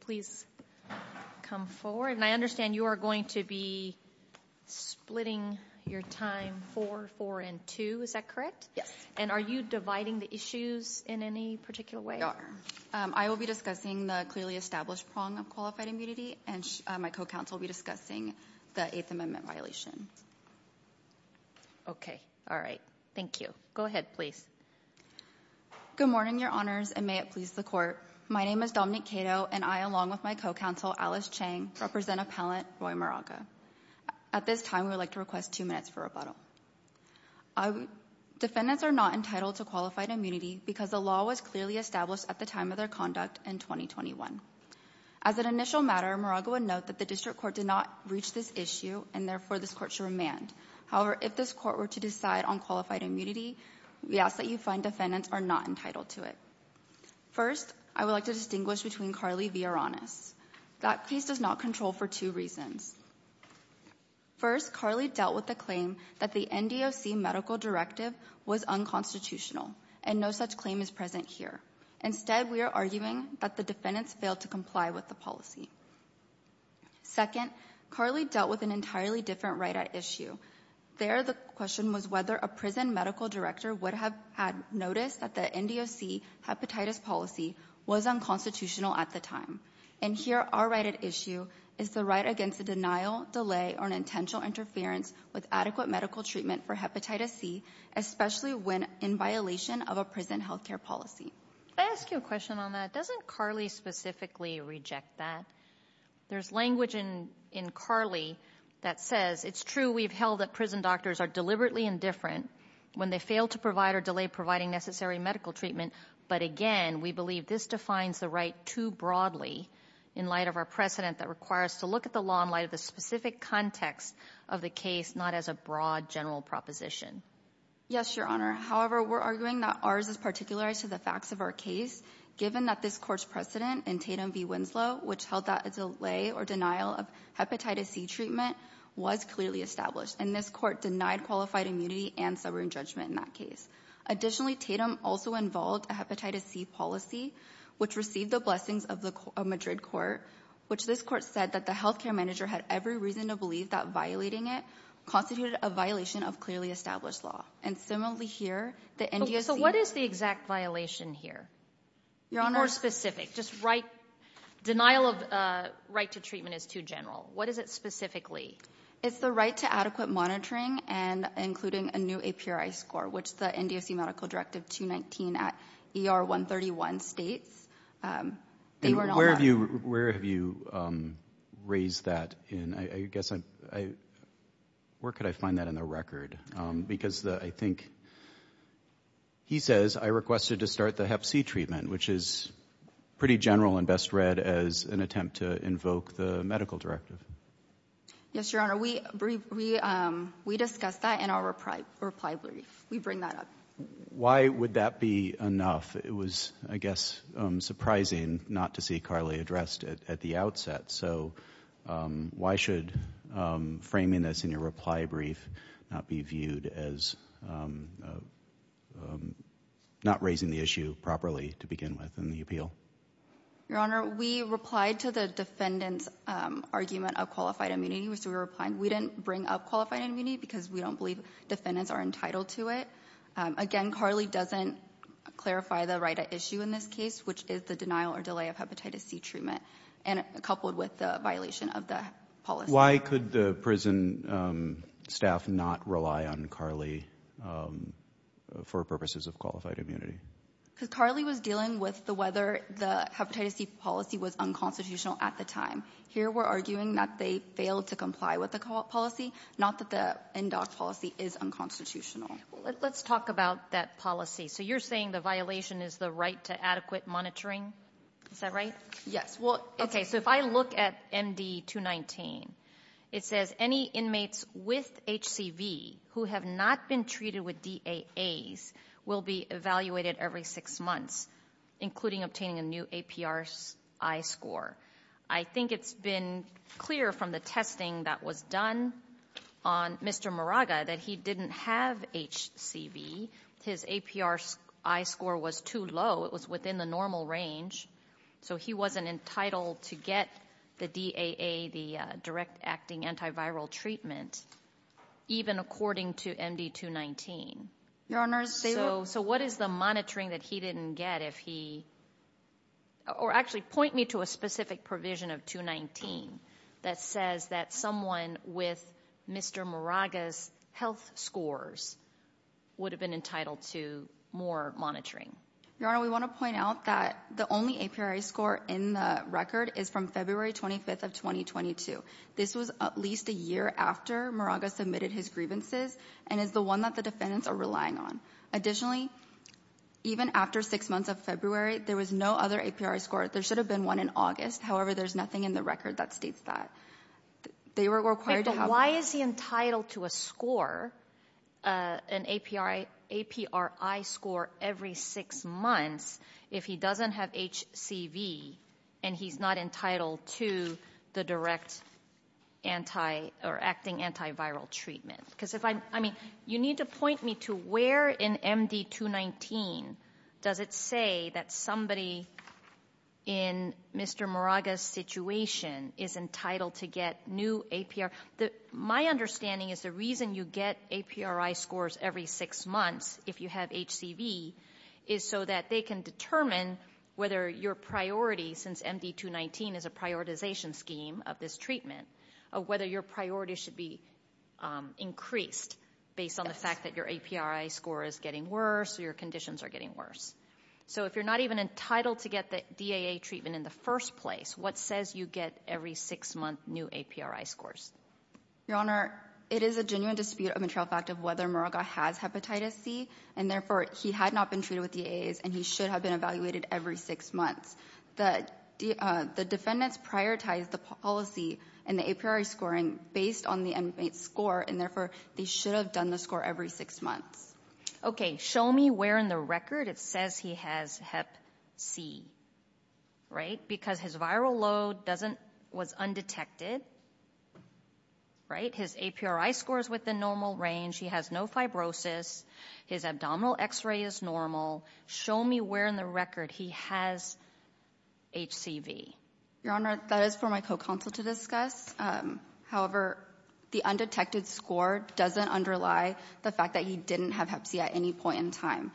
Please come forward. I understand you are going to be splitting your time 4-4-2, is that correct? Yes. And are you dividing the issues in any particular way? We are. I will be discussing the clearly established prong of qualified immunity and my co-counsel will be discussing the Eighth Amendment violation. Okay. All right. Thank you. Go ahead, please. Good morning, Your Honors, and may it please the Court. My name is Dominique Cato and I, along with my co-counsel, Alice Chang, represent appellant Roy Moraga. At this time, we would like to request two minutes for rebuttal. Defendants are not entitled to qualified immunity because the law was clearly established at the time of their conduct in 2021. As an initial matter, Moraga would note that the District Court did not reach this issue and therefore this Court should remand. However, if this Court were to decide on qualified immunity, we ask that you find defendants are not entitled to it. First, I would like to distinguish between Carly v. Aronis. That case does not control for two reasons. First, Carly dealt with the claim that the NDOC medical directive was unconstitutional and no such claim is present here. Instead, we are arguing that the defendants failed to comply with the policy. Second, Carly dealt with an entirely different right at issue. There, the question was whether a prison medical director would have had noticed that the NDOC hepatitis policy was unconstitutional at the time. And here, our right at issue is the right against a denial, delay, or an intentional interference with adequate medical treatment for hepatitis C, especially when in violation of a prison health care policy. May I ask you a question on that? Doesn't Carly specifically reject that? There's language in Carly that says, it's true we've held that prison doctors are deliberately indifferent when they fail to provide or delay providing necessary medical treatment. But again, we believe this defines the right too broadly in light of our precedent that requires to look at the law in light of the specific context of the case, not as a broad general proposition. Yes, your honor. However, we're arguing that ours is particularized to the facts of our case, given that this court's precedent in Tatum v. Winslow, which held that a delay or denial of hepatitis C treatment was clearly established. And this court denied qualified immunity and summary judgment in that case. Additionally, Tatum also involved a hepatitis C policy, which received the blessings of the Madrid court, which this court said that the health care manager had every reason to believe that violating it constituted a violation of clearly established law. And similarly here, the NDSC... So what is the exact violation here? Your honor... More specific, just right, denial of right to treatment is too general. What is it specifically? It's the right to adequate monitoring and including a new APRI score, which the NDSC medical directive 219 at ER 131 states. And where have you raised that in, I guess, where could I find that in the record? Because I think he says, I requested to start the hep C treatment, which is pretty general and best read as an attempt to invoke the medical directive. Yes, your honor. We discussed that in our reply brief. We bring that up. Why would that be enough? It was, I guess, surprising not to see Carly addressed at the outset. So why should framing this in your reply brief not be viewed as not raising the issue properly to begin with in the appeal? Your honor, we replied to the defendant's argument of qualified immunity, which we were applying. We didn't bring up qualified immunity because we don't believe defendants are entitled to it. Again, Carly doesn't clarify the right to issue in this case, which is the denial or delay of hepatitis C treatment. And coupled with the violation of the policy. Why could the prison staff not rely on Carly for purposes of qualified immunity? Because Carly was dealing with the whether the hepatitis C policy was unconstitutional at the time. Here, we're arguing that they failed to comply with the policy, not that the NDOC policy is unconstitutional. Let's talk about that policy. So you're saying the violation is the right to adequate monitoring. Is that right? Yes. Well, okay. So if I look at MD 219, it says any inmates with HCV who have not been treated with DAAs will be evaluated every six months, including obtaining a new APR-I score. I think it's been clear from the testing that was done on Mr. Muraga that he didn't have HCV. His APR-I score was too low. It was within the normal range. So he wasn't entitled to get the DAA, the direct acting antiviral treatment, even according to MD 219. Your Honor, they were- So what is the monitoring that he didn't get if he, or actually point me to a specific provision of 219 that says that someone with Mr. Muraga's health scores would have been entitled to more monitoring? Your Honor, we want to point out that the only APR-I score in the record is from February 25th of 2022. This was at least a year after Muraga submitted his grievances and is the one that the defendants are relying on. Additionally, even after six months of February, there was no other APR-I score. There should have been one in August. However, there's nothing in the record that states that. They were required to have- Why is he entitled to a score, an APR-I score every six months, if he doesn't have HCV and he's not entitled to the direct anti or acting antiviral treatment? Because if I, I mean, you need to point me to where in MD 219 does it say that somebody in Mr. Muraga's situation is entitled to get new APR-I? My understanding is the reason you get APR-I scores every six months, if you have HCV, is so that they can determine whether your priority, since MD 219 is a prioritization scheme of this treatment, of whether your priority should be increased based on the fact that your APR-I score is getting worse, so your conditions are getting worse. So if you're not even entitled to get the DAA treatment in the first place, what says you get every six-month new APR-I scores? Your Honor, it is a genuine dispute of material fact of whether Muraga has hepatitis C, and therefore, he had not been treated with DAAs and he should have been evaluated every six months. The defendants prioritized the policy and the APR-I scoring based on the score, and therefore, they should have done the score every six months. Okay, show me where in the record it says he has hep C, right? Because his viral load was undetected, right? His APR-I score is within normal range. He has no fibrosis. His abdominal x-ray is normal. Show me where in the record he has HCV. Your Honor, that is for my co-counsel to discuss. However, the undetected score doesn't underlie the fact that he didn't have hep C at any point in time.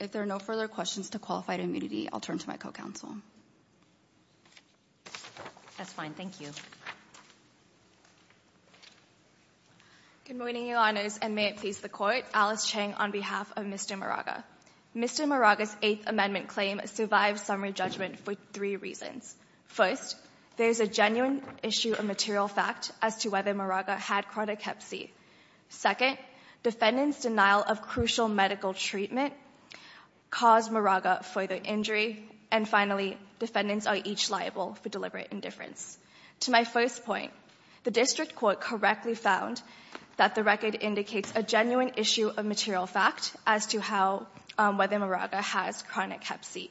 If there are no further questions to qualified immunity, I'll turn to my co-counsel. That's fine, thank you. Good morning, Your Honors, and may it please the Court. Alice Chang on behalf of Mr. Muraga. Mr. Muraga's Eighth Amendment claim survives summary judgment for three reasons. First, there is a genuine issue of material fact as to whether Muraga had chronic hep C. Second, defendant's denial of crucial medical treatment caused Muraga further injury. And finally, defendants are each liable for deliberate indifference. To my first point, the district court correctly found that the record indicates a genuine issue of material fact as to how, whether Muraga has chronic hep C.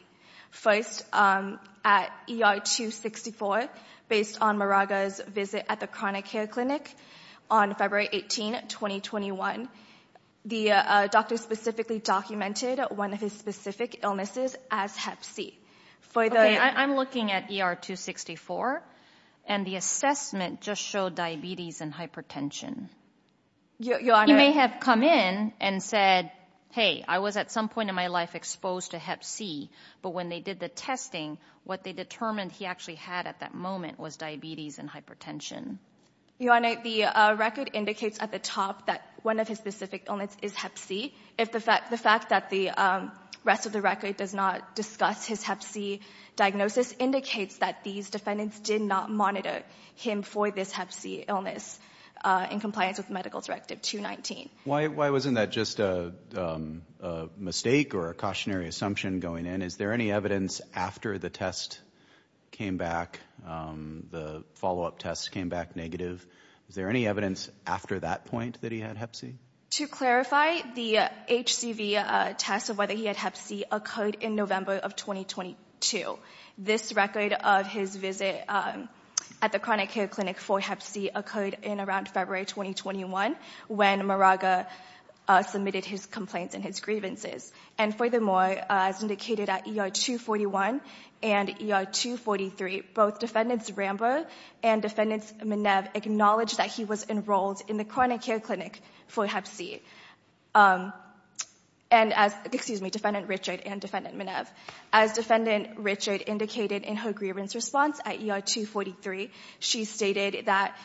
First, at ER 264, based on Muraga's visit at the chronic care clinic on February 18, 2021, the doctor specifically documented one of his specific illnesses as hep C. Okay, I'm looking at ER 264, and the assessment just showed diabetes and hypertension. Your Honor. He may have come in and said, hey, I was at some point in my life exposed to hep C, but when they did the testing, what they determined he actually had at that moment was diabetes and hypertension. Your Honor, the record indicates at the top that one of his specific illness is hep C. If the fact that the rest of the record does not discuss his hep C diagnosis indicates that these defendants did not monitor him for this hep C illness in compliance with medical directive 219. Why wasn't that just a mistake or a cautionary assumption going in? Is there any evidence after the test came back and the follow-up tests came back negative? Is there any evidence after that point that he had hep C? To clarify, the HCV test of whether he had hep C occurred in November of 2022. This record of his visit at the chronic care clinic for hep C occurred in around February, 2021, when Muraga submitted his complaints and his grievances. And furthermore, as indicated at ER 241 and ER 243, both defendants Rambo and defendants Menev acknowledged that he was enrolled in the chronic care clinic for hep C. And as, excuse me, defendant Richard and defendant Menev. As defendant Richard indicated in her grievance response at ER 243, she stated that,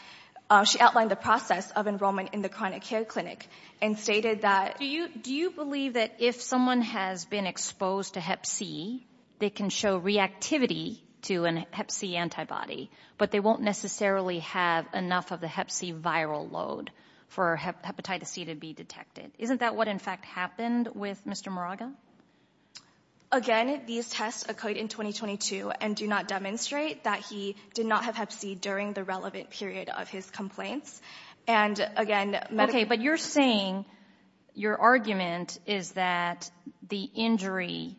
she outlined the process of enrollment in the chronic care clinic and stated that- Do you believe that if someone has been exposed to hep C, they can show reactivity to an hep C antibody, but they won't necessarily have enough of the hep C viral load for hepatitis C to be detected? Isn't that what in fact happened with Mr. Muraga? Again, these tests occurred in 2022 and do not demonstrate that he did not have hep C during the relevant period of his complaints. And again- Okay, but you're saying your argument is that the injury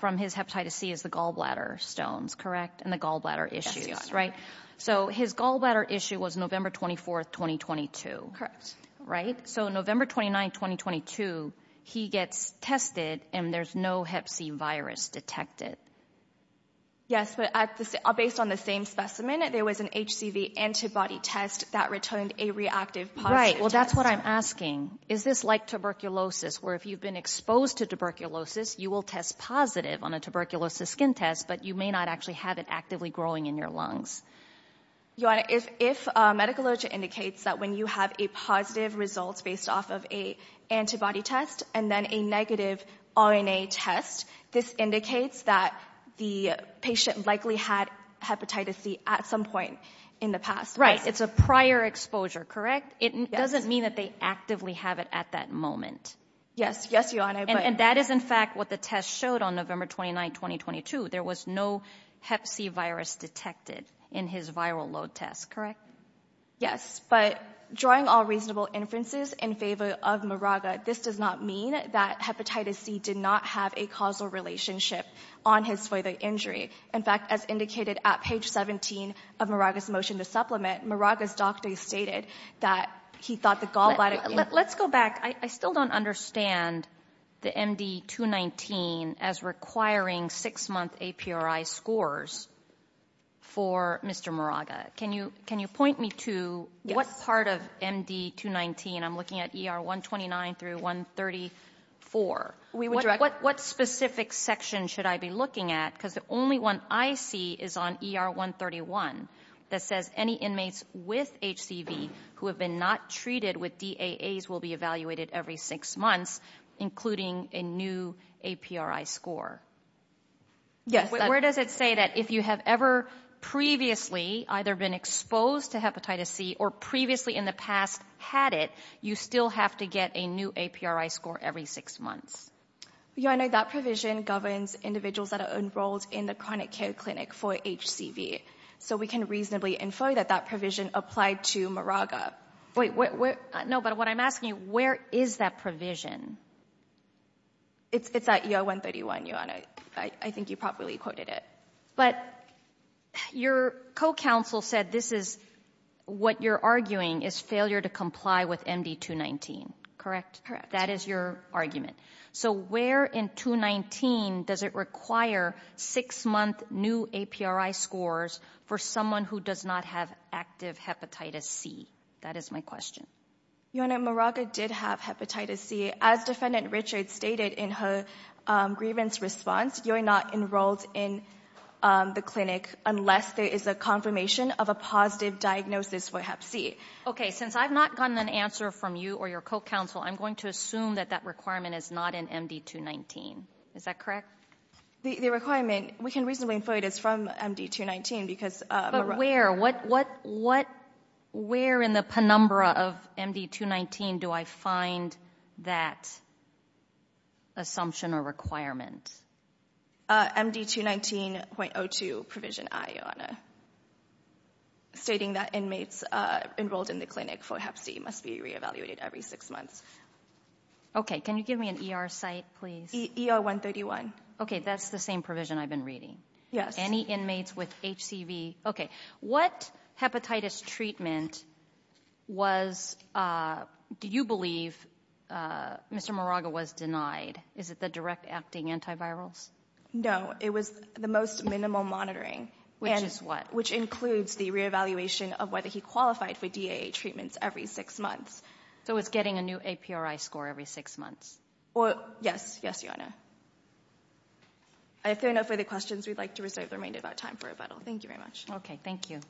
from his hepatitis C is the gallbladder stones, correct? And the gallbladder issues, right? So his gallbladder issue was November 24th, 2022. Right, so November 29th, 2022, he gets tested and there's no hep C virus detected. Yes, but based on the same specimen, there was an HCV antibody test that returned a reactive positive test. Right, well, that's what I'm asking. Is this like tuberculosis, where if you've been exposed to tuberculosis, you will test positive on a tuberculosis skin test, but you may not actually have it actively growing in your lungs? Your Honor, if medical logic indicates that when you have a positive results based off of a antibody test and then a negative RNA test, this indicates that the patient likely had hepatitis C at some point in the past. Right, it's a prior exposure, correct? It doesn't mean that they actively have it at that moment. Yes, yes, Your Honor. And that is in fact what the test showed on November 29th, 2022. There was no hep C virus detected in his viral load test, correct? Yes, but drawing all reasonable inferences in favor of Muraga, this does not mean that hepatitis C did not have a causal relationship on his further injury. In fact, as indicated at page 17 of Muraga's motion to supplement, Muraga's doctor stated that he thought the gallbladder... Let's go back. I still don't understand the MD-219 as requiring six month APRI scores for Mr. Muraga. Can you point me to what part of MD-219 I'm looking at ER-129 through 134? What specific section should I be looking at? Because the only one I see is on ER-131 that says any inmates with HCV who have been not treated with DAAs will be evaluated every six months, including a new APRI score. Yes. Where does it say that if you have ever previously either been exposed to hepatitis C or previously in the past had it, you still have to get a new APRI score every six months? Your Honor, that provision governs individuals that are enrolled in the chronic care clinic for HCV. So we can reasonably infer that that provision applied to Muraga. Wait, no, but what I'm asking you, where is that provision? It's at ER-131, Your Honor. I think you properly quoted it. But your co-counsel said this is what you're arguing is failure to comply with MD-219, correct? Correct. That is your argument. So where in 219 does it require six month new APRI scores for someone who does not have active hepatitis C? That is my question. Your Honor, Muraga did have hepatitis C. As Defendant Richards stated in her grievance response, you're not enrolled in the clinic unless there is a confirmation of a positive diagnosis for hep C. Okay, since I've not gotten an answer from you or your co-counsel, I'm going to assume that that requirement is not in MD-219. Is that correct? The requirement, we can reasonably infer it is from MD-219. But where? Where in the penumbra of MD-219 do I find that assumption or requirement? MD-219.02, Provision I, Your Honor. Stating that inmates enrolled in the clinic for hep C must be re-evaluated every six months. Okay, can you give me an ER site, please? ER-131. Okay, that's the same provision I've been reading. Yes. Any inmates with HCV, okay. What hepatitis treatment was, do you believe Mr. Muraga was denied? Is it the direct acting antivirals? No, it was the most minimal monitoring. Which is what? Which includes the re-evaluation of whether he qualified for DAA treatments every six months. So it's getting a new APRI score every six months? Well, yes, yes, Your Honor. I think enough for the questions. We'd like to reserve the remainder of our time for rebuttal. Thank you very much. Okay, thank you.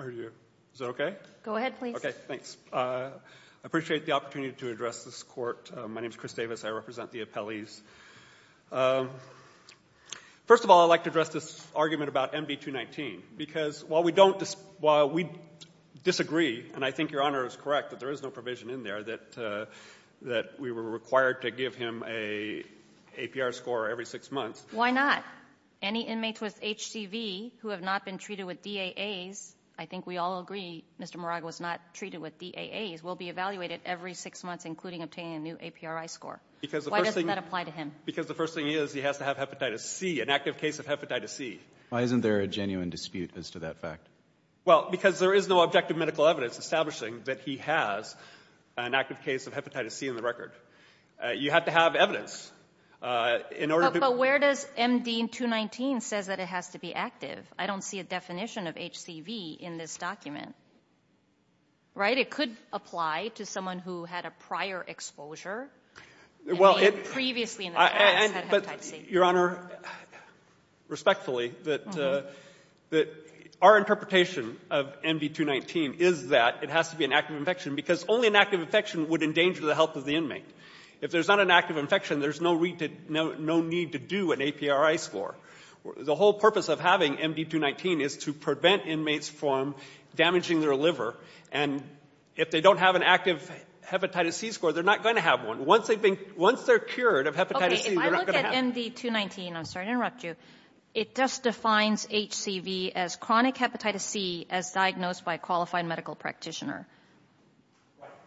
I heard you. Is that okay? Go ahead, please. Okay, thanks. I appreciate the opportunity to address this court. My name is Chris Davis. I represent the appellees. First of all, I'd like to address this argument about MV-219. Because while we don't dis — while we disagree, and I think Your Honor is correct that there is no provision in there that we were required to give him an APR score every six months. Why not? Any inmates with HCV who have not been treated with DAAs — I think we all agree Mr. Muraga was not treated with DAAs — will be evaluated every six months, including obtaining a new APRI score. Why doesn't that apply to him? Because the first thing is he has to have hepatitis C, an active case of hepatitis C. Why isn't there a genuine dispute as to that fact? Well, because there is no objective medical evidence establishing that he has an active case of hepatitis C in the record. You have to have evidence in order to — But where does MD-219 says that it has to be active? I don't see a definition of HCV in this document. Right? It could apply to someone who had a prior exposure. I mean, previously in the past had hepatitis C. Your Honor, respectfully, our interpretation of MD-219 is that it has to be an active infection because only an active infection would endanger the health of the inmate. If there's not an active infection, there's no need to do an APRI score. The whole purpose of having MD-219 is to prevent inmates from damaging their liver, and if they don't have an active hepatitis C score, they're not going to have one. Once they've been — once they're cured of hepatitis C, they're not going to have — Okay, if I look at MD-219 — I'm sorry to interrupt you — it just defines HCV as chronic hepatitis C as diagnosed by a qualified medical practitioner.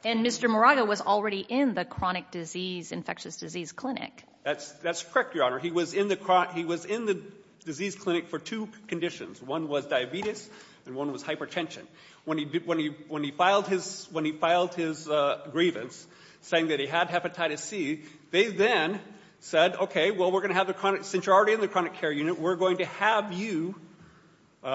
And Mr. Moraga was already in the chronic disease — infectious disease clinic. That's — that's correct, Your Honor. He was in the — he was in the disease clinic for two conditions. One was diabetes, and one was hypertension. When he did — when he — when he filed his — when he filed his grievance saying that he had hepatitis C, they then said, okay, well, we're going to have the chronic — since you're already in the chronic care unit, we're going to have you — we're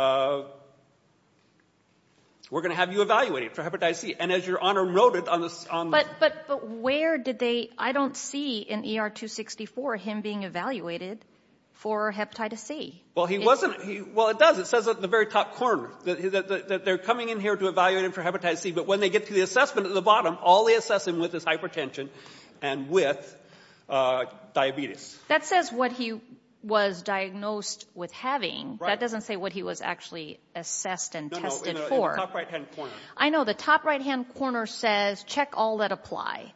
going to have you evaluated for hepatitis C. And as Your Honor noted on the — But where did they — I don't see in ER-264 him being evaluated for hepatitis C. Well, he wasn't — well, it does. It says at the very top corner that they're coming in here to evaluate him for hepatitis C, but when they get to the assessment at the bottom, all they assess him with is hypertension and with diabetes. That says what he was diagnosed with having. That doesn't say what he was actually assessed and tested for. No, no, in the top right-hand corner. I know. The top right-hand corner says, check all that apply.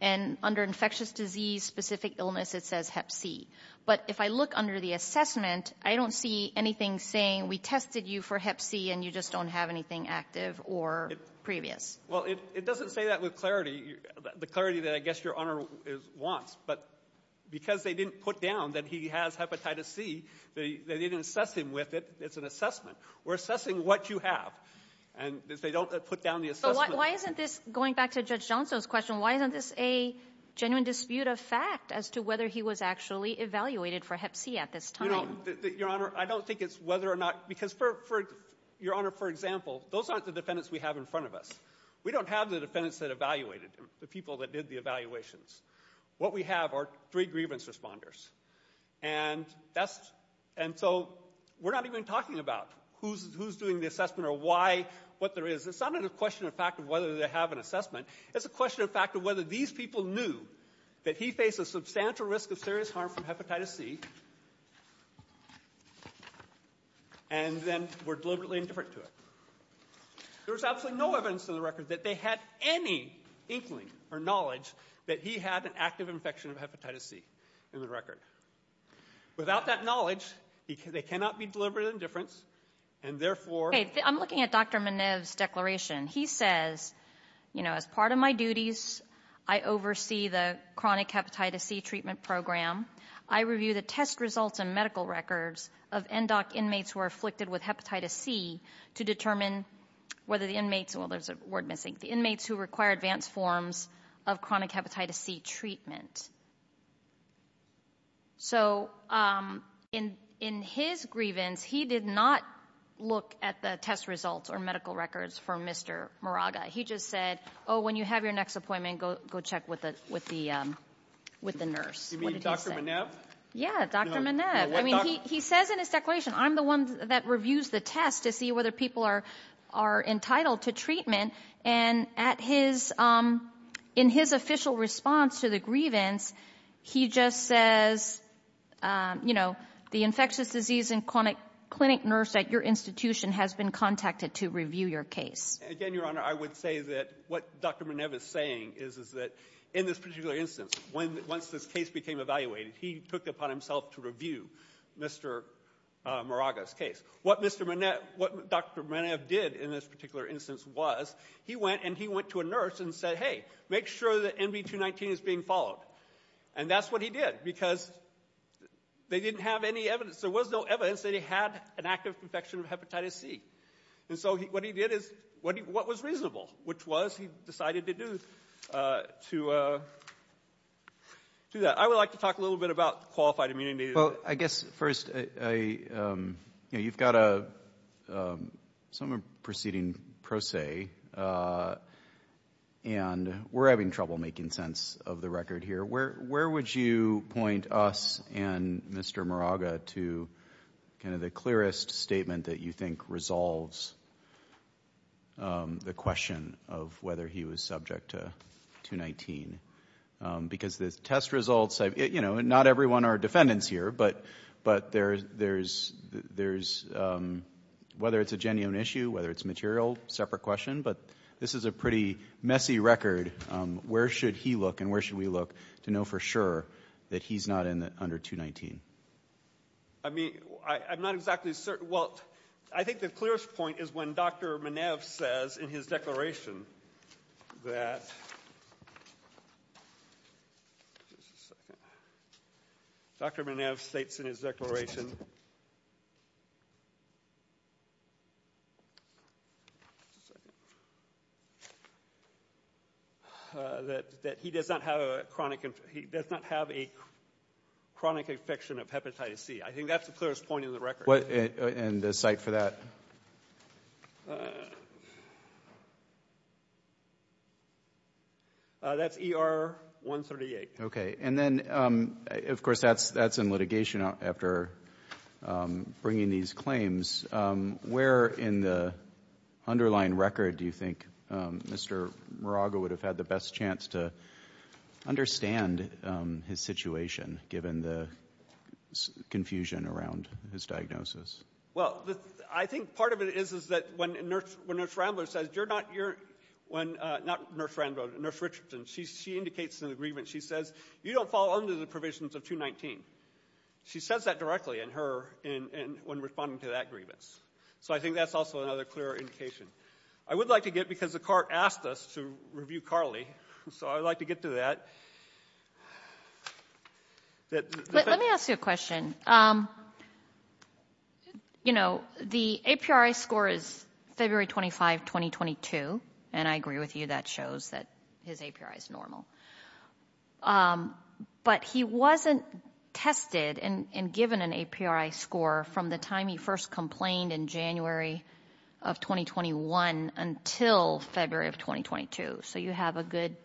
And under infectious disease-specific illness, it says hep C. But if I look under the assessment, I don't see anything saying, we tested you for hep C, and you just don't have anything active or previous. Well, it doesn't say that with clarity, the clarity that I guess Your Honor wants. But because they didn't put down that he has hepatitis C, they didn't assess him with it. It's an assessment. We're assessing what you have. And they don't put down the assessment. Why isn't this — going back to Judge Johnson's question — why isn't this a genuine dispute of fact as to whether he was actually evaluated for hep C at this time? You know, Your Honor, I don't think it's whether or not — because, Your Honor, for example, those aren't the defendants we have in front of us. We don't have the defendants that evaluated him, the people that did the evaluations. What we have are three grievance responders. And that's — and so we're not even talking about who's doing the assessment or why, what there is. It's not a question of fact of whether they have an assessment. It's a question of fact of whether these people knew that he faced a substantial risk of serious harm from hepatitis C and then were deliberately indifferent to it. There's absolutely no evidence in the record that they had any inkling or knowledge that he had an active infection of hepatitis C in the record. Without that knowledge, they cannot be deliberately indifferent. And therefore — Hey, I'm looking at Dr. Miniv's declaration. He says, you know, as part of my duties, I oversee the chronic hepatitis C treatment program. I review the test results and medical records of NDOC inmates who are afflicted with hepatitis C to determine whether the inmates — well, there's a word missing — the inmates who require advanced forms of chronic hepatitis C treatment. So, in his grievance, he did not look at the test results or medical records for Mr. Muraga. He just said, oh, when you have your next appointment, go check with the nurse. You mean Dr. Miniv? Yeah, Dr. Miniv. I mean, he says in his declaration, I'm the one that reviews the test to see whether people are entitled to treatment. And at his — in his official response to the grievance, he just says, you know, the infectious disease and clinic nurse at your institution has been contacted to review your case. Again, Your Honor, I would say that what Dr. Miniv is saying is, is that in this particular instance, once this case became evaluated, he took it upon himself to review Mr. Muraga's case. What Mr. Miniv — what Dr. Miniv did in this particular instance was, he went and he went to a nurse and said, hey, make sure that NV219 is being followed. And that's what he did, because they didn't have any evidence. There was no evidence that he had an active infection of hepatitis C. And so what he did is — what was reasonable, which was he decided to do — to do that. I would like to talk a little bit about qualified immunity. Well, I guess first, I — you know, you've got a — some are proceeding pro se, and we're having trouble making sense of the record here. Where would you point us and Mr. Muraga to kind of the clearest statement that you think resolves the question of whether he was subject to 219? Because the test results — you know, not everyone are defendants here, but there's — whether it's a genuine issue, whether it's material, separate question. But this is a pretty messy record. Where should he look and where should we look to know for sure that he's not under 219? I mean, I'm not exactly certain — well, I think the clearest point is when Dr. Miniv says in his declaration that — just a second — Dr. Miniv states in his declaration that he does not have a chronic — he does not have a chronic infection of hepatitis C. I think that's the clearest point in the record. What — and the cite for that? That's ER 138. And then, of course, that's in litigation after bringing these claims. Where in the underlying record do you think Mr. Muraga would have had the best chance to understand his situation given the confusion around his diagnosis? Well, I think part of it is that when Nurse Rambler says, you're not — when — not Nurse Rambler, Nurse Richardson, she indicates in the grievance, she says, you don't fall under the provisions of 219. She says that directly in her — when responding to that grievance. So I think that's also another clear indication. I would like to get — because the court asked us to review Carly, so I'd like to get to that. Let me ask you a question. Um, you know, the APRI score is February 25, 2022. And I agree with you. That shows that his APRI is normal. But he wasn't tested and given an APRI score from the time he first complained in January of 2021 until February of 2022. So you have a good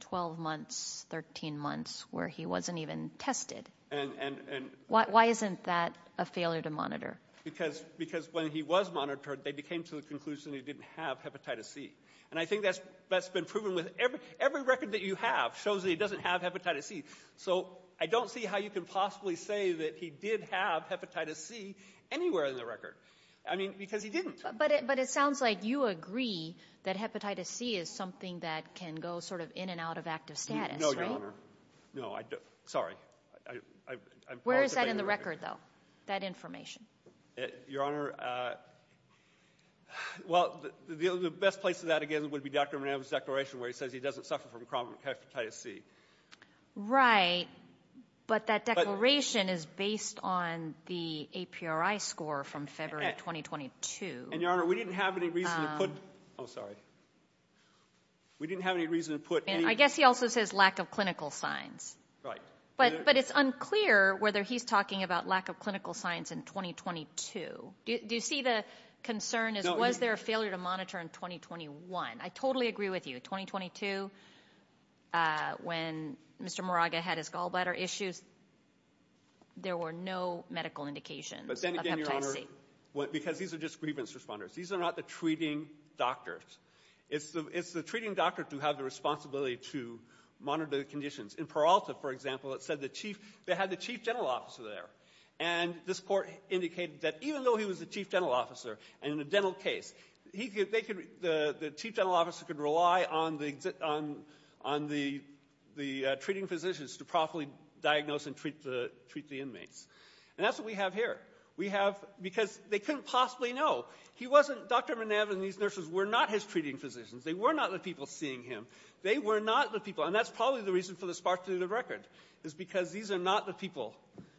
12 months, 13 months where he wasn't even tested. And — Why isn't that a failure to monitor? Because — because when he was monitored, they came to the conclusion he didn't have hepatitis C. And I think that's — that's been proven with every — every record that you have shows that he doesn't have hepatitis C. So I don't see how you can possibly say that he did have hepatitis C anywhere in the record. I mean, because he didn't. But it — but it sounds like you agree that hepatitis C is something that can go sort of in and out of active status, right? No, Your Honor. No, I — sorry. I'm — Where is that in the record, though? That information? Your Honor, well, the best place to that, again, would be Dr. Mananov's declaration where he says he doesn't suffer from chronic hepatitis C. Right. But that declaration is based on the APRI score from February of 2022. And, Your Honor, we didn't have any reason to put — oh, sorry. We didn't have any reason to put any — I guess he also says lack of clinical signs. Right. But it's unclear whether he's talking about lack of clinical signs in 2022. Do you see the concern as was there a failure to monitor in 2021? I totally agree with you. In 2022, when Mr. Moraga had his gallbladder issues, there were no medical indications of hepatitis C. Because these are just grievance responders. These are not the treating doctors. It's the treating doctors who have the responsibility to monitor the conditions. In Peralta, for example, it said the chief — they had the chief dental officer there. And this court indicated that even though he was the chief dental officer, and in a dental case, they could — the chief dental officer could rely on the treating physicians to properly diagnose and treat the inmates. And that's what we have here. We have — because they couldn't possibly know. He wasn't — Dr. Mananov and these nurses were not his treating physicians. They were not the people seeing him. They were not the people — and that's probably the reason for the sparsity of the record. It's because these are not the people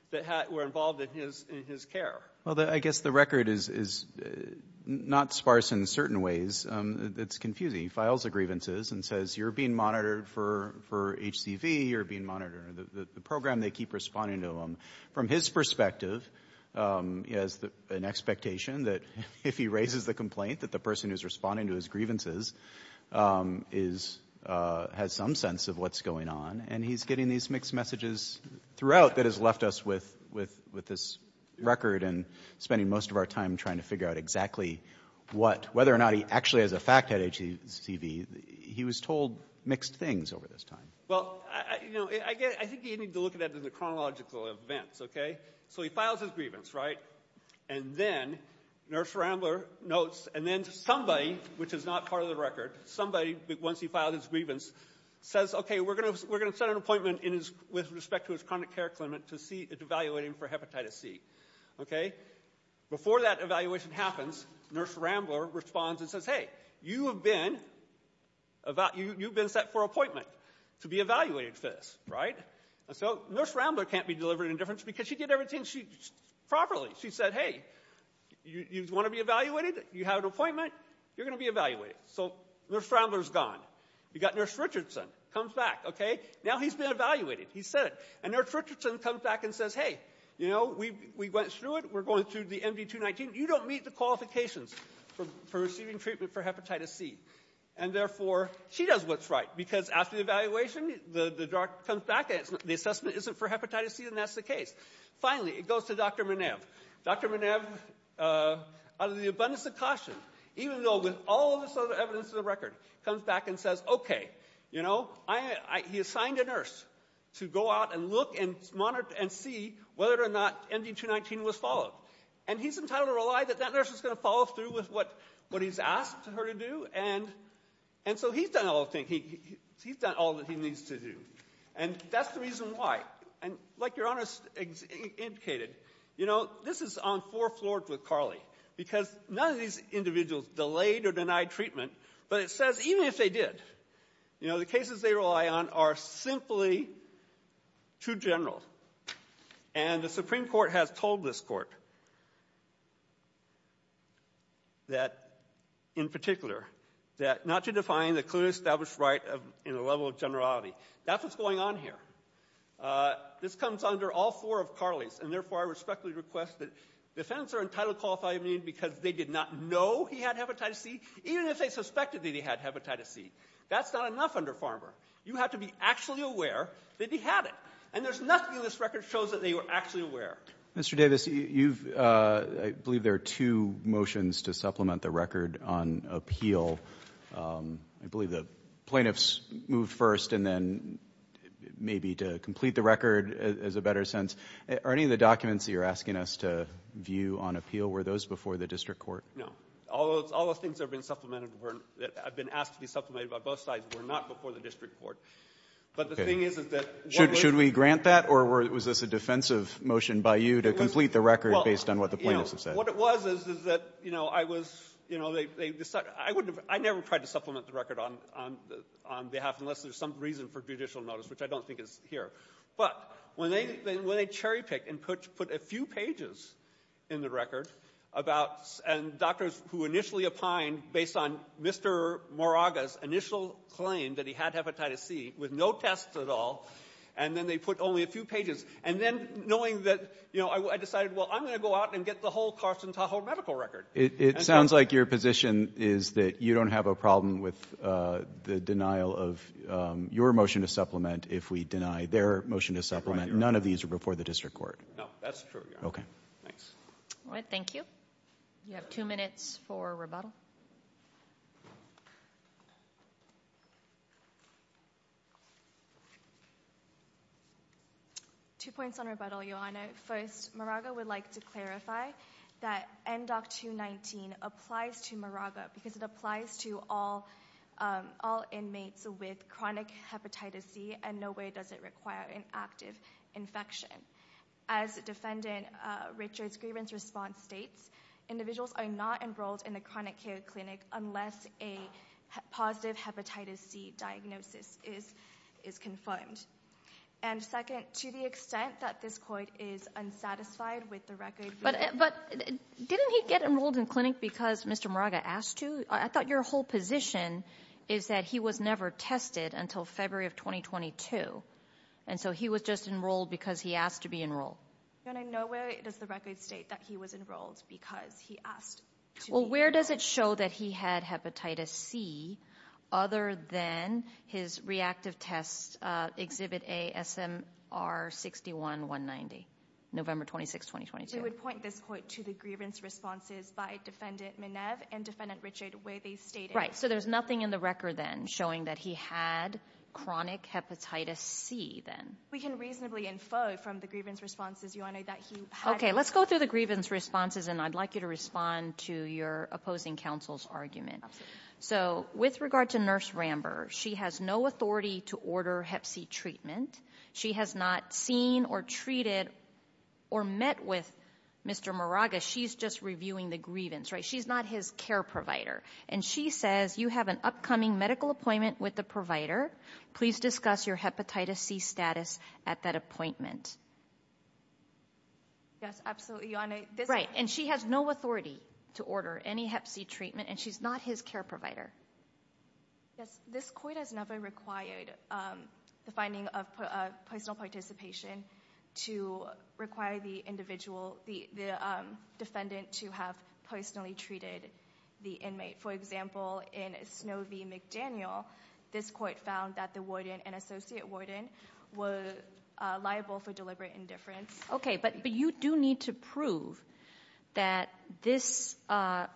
that were involved in his care. Well, I guess the record is not sparse in certain ways. It's confusing. He files the grievances and says, you're being monitored for HCV. You're being monitored — the program, they keep responding to him. From his perspective, he has an expectation that if he raises the complaint, that the person who's responding to his grievances has some sense of what's going on. And he's getting these mixed messages throughout that has left us with this record and spending most of our time trying to figure out exactly what — whether or not he actually has a fact at HCV. He was told mixed things over this time. Well, you know, I think you need to look at that in the chronological events, okay? So he files his grievance, right? And then Nurse Rambler notes, and then somebody, which is not part of the record, somebody, once he files his grievance, says, okay, we're going to set an appointment with respect to his chronic care clinic to evaluate him for hepatitis C, okay? Before that evaluation happens, Nurse Rambler responds and says, hey, you have been set for an appointment to be evaluated for this, right? So Nurse Rambler can't be delivered in indifference because she did everything properly. She said, hey, you want to be evaluated? You have an appointment? You're going to be evaluated. So Nurse Rambler's gone. You got Nurse Richardson, comes back, okay? Now he's been evaluated. He said it. And Nurse Richardson comes back and says, hey, you know, we went through it. We're going through the MD-219. You don't meet the qualifications for receiving treatment for hepatitis C. And therefore, she does what's right because after the evaluation, the doctor comes back and the assessment isn't for hepatitis C, and that's the case. Finally, it goes to Dr. Minev. Dr. Minev, out of the abundance of caution, even though with all of this other evidence in the record, comes back and says, okay, you know, he assigned a nurse to go out and look and monitor and see whether or not MD-219 was followed. And he's entitled to rely that that nurse is going to follow through with what he's asked her to do. And so he's done all the thinking. He's done all that he needs to do. And that's the reason why. And like Your Honor indicated, you know, this is on four floors with Carly because none of these individuals delayed or denied treatment. But it says even if they did, you know, the cases they rely on are simply too general. And the Supreme Court has told this court that, in particular, that not to define the clearly established right in a level of generality. That's what's going on here. This comes under all four of Carly's. And therefore, I respectfully request that defendants are entitled to qualify because they did not know he had hepatitis C, even if they suspected that he had hepatitis C. That's not enough under Farmer. You have to be actually aware that he had it. And there's nothing in this record that shows that they were actually aware. Mr. Davis, I believe there are two motions to supplement the record on appeal. I believe the plaintiffs moved first and then maybe to complete the record as a better sense. Are any of the documents that you're asking us to view on appeal, were those before the district court? All those things that have been supplemented, that have been asked to be supplemented by both sides, were not before the district court. But the thing is, is that what was the ---- Should we grant that? Or was this a defensive motion by you to complete the record based on what the plaintiffs have said? Well, you know, what it was is, is that, you know, I was, you know, they decided I wouldn't have ---- I never tried to supplement the record on behalf unless there's some reason for judicial notice, which I don't think is here. But when they cherry picked and put a few pages in the record about, and doctors who initially opined based on Mr. Moraga's initial claim that he had hepatitis C with no tests at all, and then they put only a few pages. And then knowing that, you know, I decided, well, I'm going to go out and get the whole Carson Tahoe medical record. It sounds like your position is that you don't have a problem with the denial of your motion to supplement if we deny. Their motion to supplement, none of these are before the district court. No, that's true, Your Honor. Thanks. All right, thank you. You have two minutes for rebuttal. Two points on rebuttal, Your Honor. First, Moraga would like to clarify that NDOC 219 applies to Moraga because it applies to all inmates with chronic hepatitis C, and no way does it require an active infection. As Defendant Richards' grievance response states, individuals are not enrolled in the chronic care clinic unless a positive hepatitis C diagnosis is confirmed. And second, to the extent that this court is unsatisfied with the record. But didn't he get enrolled in clinic because Mr. Moraga asked to? I thought your whole position is that he was never tested until February of 2022, and so he was just enrolled because he asked to be enrolled. Then in no way does the record state that he was enrolled because he asked to be enrolled. Well, where does it show that he had hepatitis C other than his reactive test exhibit A, SMR 61190, November 26, 2022? We would point this court to the grievance responses by Defendant Minev and Defendant Richards where they stated- Right, so there's nothing in the record then showing that he had chronic hepatitis C then? We can reasonably infer from the grievance responses, Your Honor, that he had- Okay, let's go through the grievance responses, and I'd like you to respond to your opposing counsel's argument. So with regard to Nurse Ramber, she has no authority to order hep C treatment. She has not seen or treated or met with Mr. Moraga. She's just reviewing the grievance, right? She's not his care provider, and she says, you have an upcoming medical appointment with the provider. Please discuss your hepatitis C status at that appointment. Yes, absolutely, Your Honor. Right, and she has no authority to order any hep C treatment, and she's not his care provider. Yes, this court has never required the finding of personal participation to require the defendant to have personally treated the inmate. For example, in Snow v. McDaniel, this court found that the warden and associate warden were liable for deliberate indifference. Okay, but you do need to prove that this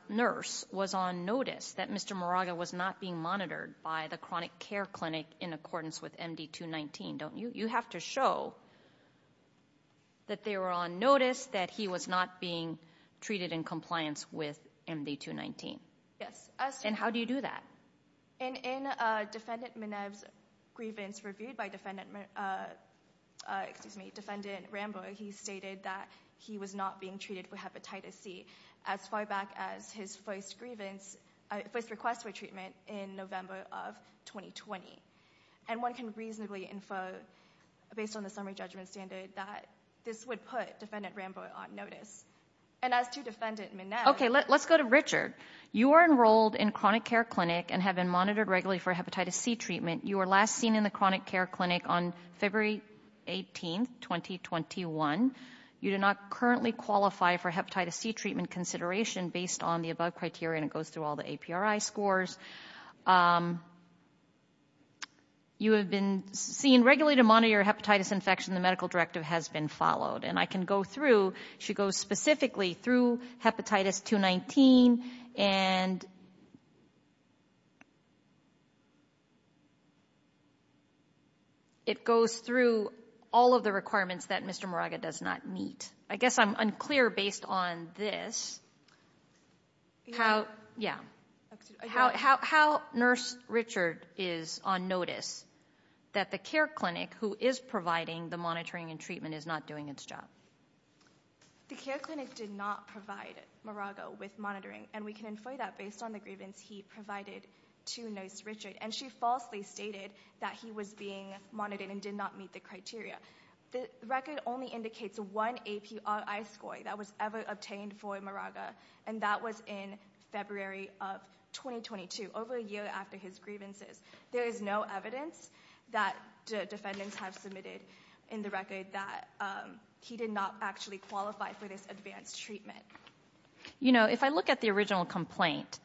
nurse was on notice, that Mr. Moraga was not being monitored by the chronic care clinic in accordance with MD 219, don't you? You have to show that they were on notice, that he was not being treated in compliance with MD 219. Yes. And how do you do that? And in Defendant Minev's grievance reviewed by Defendant Ramber, he stated that he was not being treated for hepatitis C as far back as his first request for treatment in November of 2020. And one can reasonably info, based on the summary judgment standard, that this would put Defendant Ramber on notice. And as to Defendant Minev... Okay, let's go to Richard. You are enrolled in chronic care clinic and have been monitored regularly for hepatitis C treatment. You were last seen in the chronic care clinic on February 18, 2021. You do not currently qualify for hepatitis C treatment consideration based on the above criteria, and it goes through all the APRI scores. You have been seen regularly to monitor your hepatitis infection. The medical directive has been followed. And I can go through... She goes specifically through hepatitis 219, and... It goes through all of the requirements that Mr. Moraga does not meet. I guess I'm unclear based on this. How... Yeah. How Nurse Richard is on notice that the care clinic who is providing the monitoring and treatment is not doing its job? The care clinic did not provide Moraga with monitoring, and we can infer that based on the grievance he provided to Nurse Richard. And she falsely stated that he was being monitored and did not meet the criteria. The record only indicates one APRI score that was ever obtained for Moraga, and that was in February of 2022, over a year after his grievances. There is no evidence that the defendants have submitted in the record that he did not actually qualify for this advanced treatment. You know, if I look at the original complaint,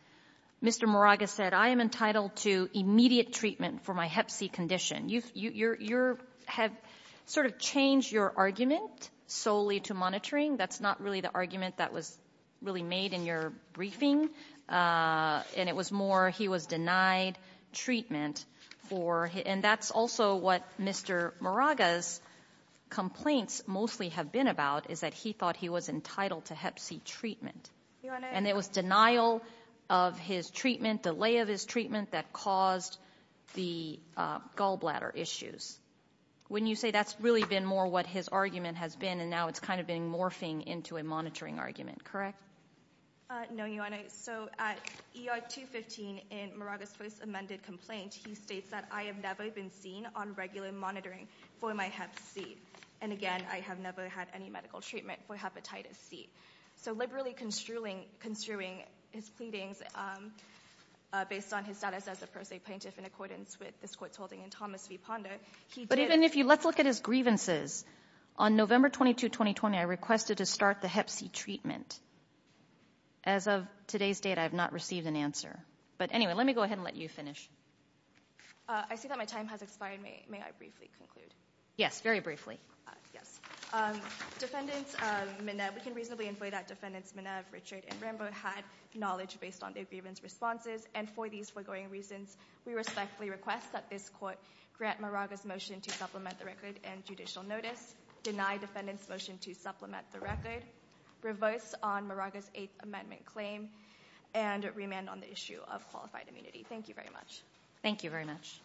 Mr. Moraga said, I am entitled to immediate treatment for my hep C condition. You have sort of changed your argument solely to monitoring. That's not really the argument that was really made in your briefing. And it was more he was denied treatment for... And that's also what Mr. Moraga's complaints mostly have been about, is that he thought he was entitled to hep C treatment. And it was denial of his treatment, delay of his treatment, that caused the gallbladder issues. When you say that's really been more what his argument has been, and now it's kind of been morphing into a monitoring argument, correct? No, Your Honor. So at ER 215, in Moraga's first amended complaint, he states that I have never been seen on regular monitoring for my hep C. And again, I have never had any medical treatment for hepatitis C. So liberally construing his pleadings based on his status as a pro se plaintiff in accordance with this court's holding in Thomas v. Ponder, he did... Let's look at his grievances. On November 22, 2020, I requested to start the hep C treatment. As of today's date, I have not received an answer. But anyway, let me go ahead and let you finish. I see that my time has expired. May I briefly conclude? Yes, very briefly. Yes. Defendants Menev, we can reasonably infer that defendants Menev, Richard, and Rambo had knowledge based on their grievance responses. And for these foregoing reasons, we respectfully request that this court grant Moraga's motion to supplement the record and judicial notice, deny defendant's motion to supplement the record, reverse on Moraga's eighth amendment claim, and remand on the issue of qualified immunity. Thank you very much. Thank you very much.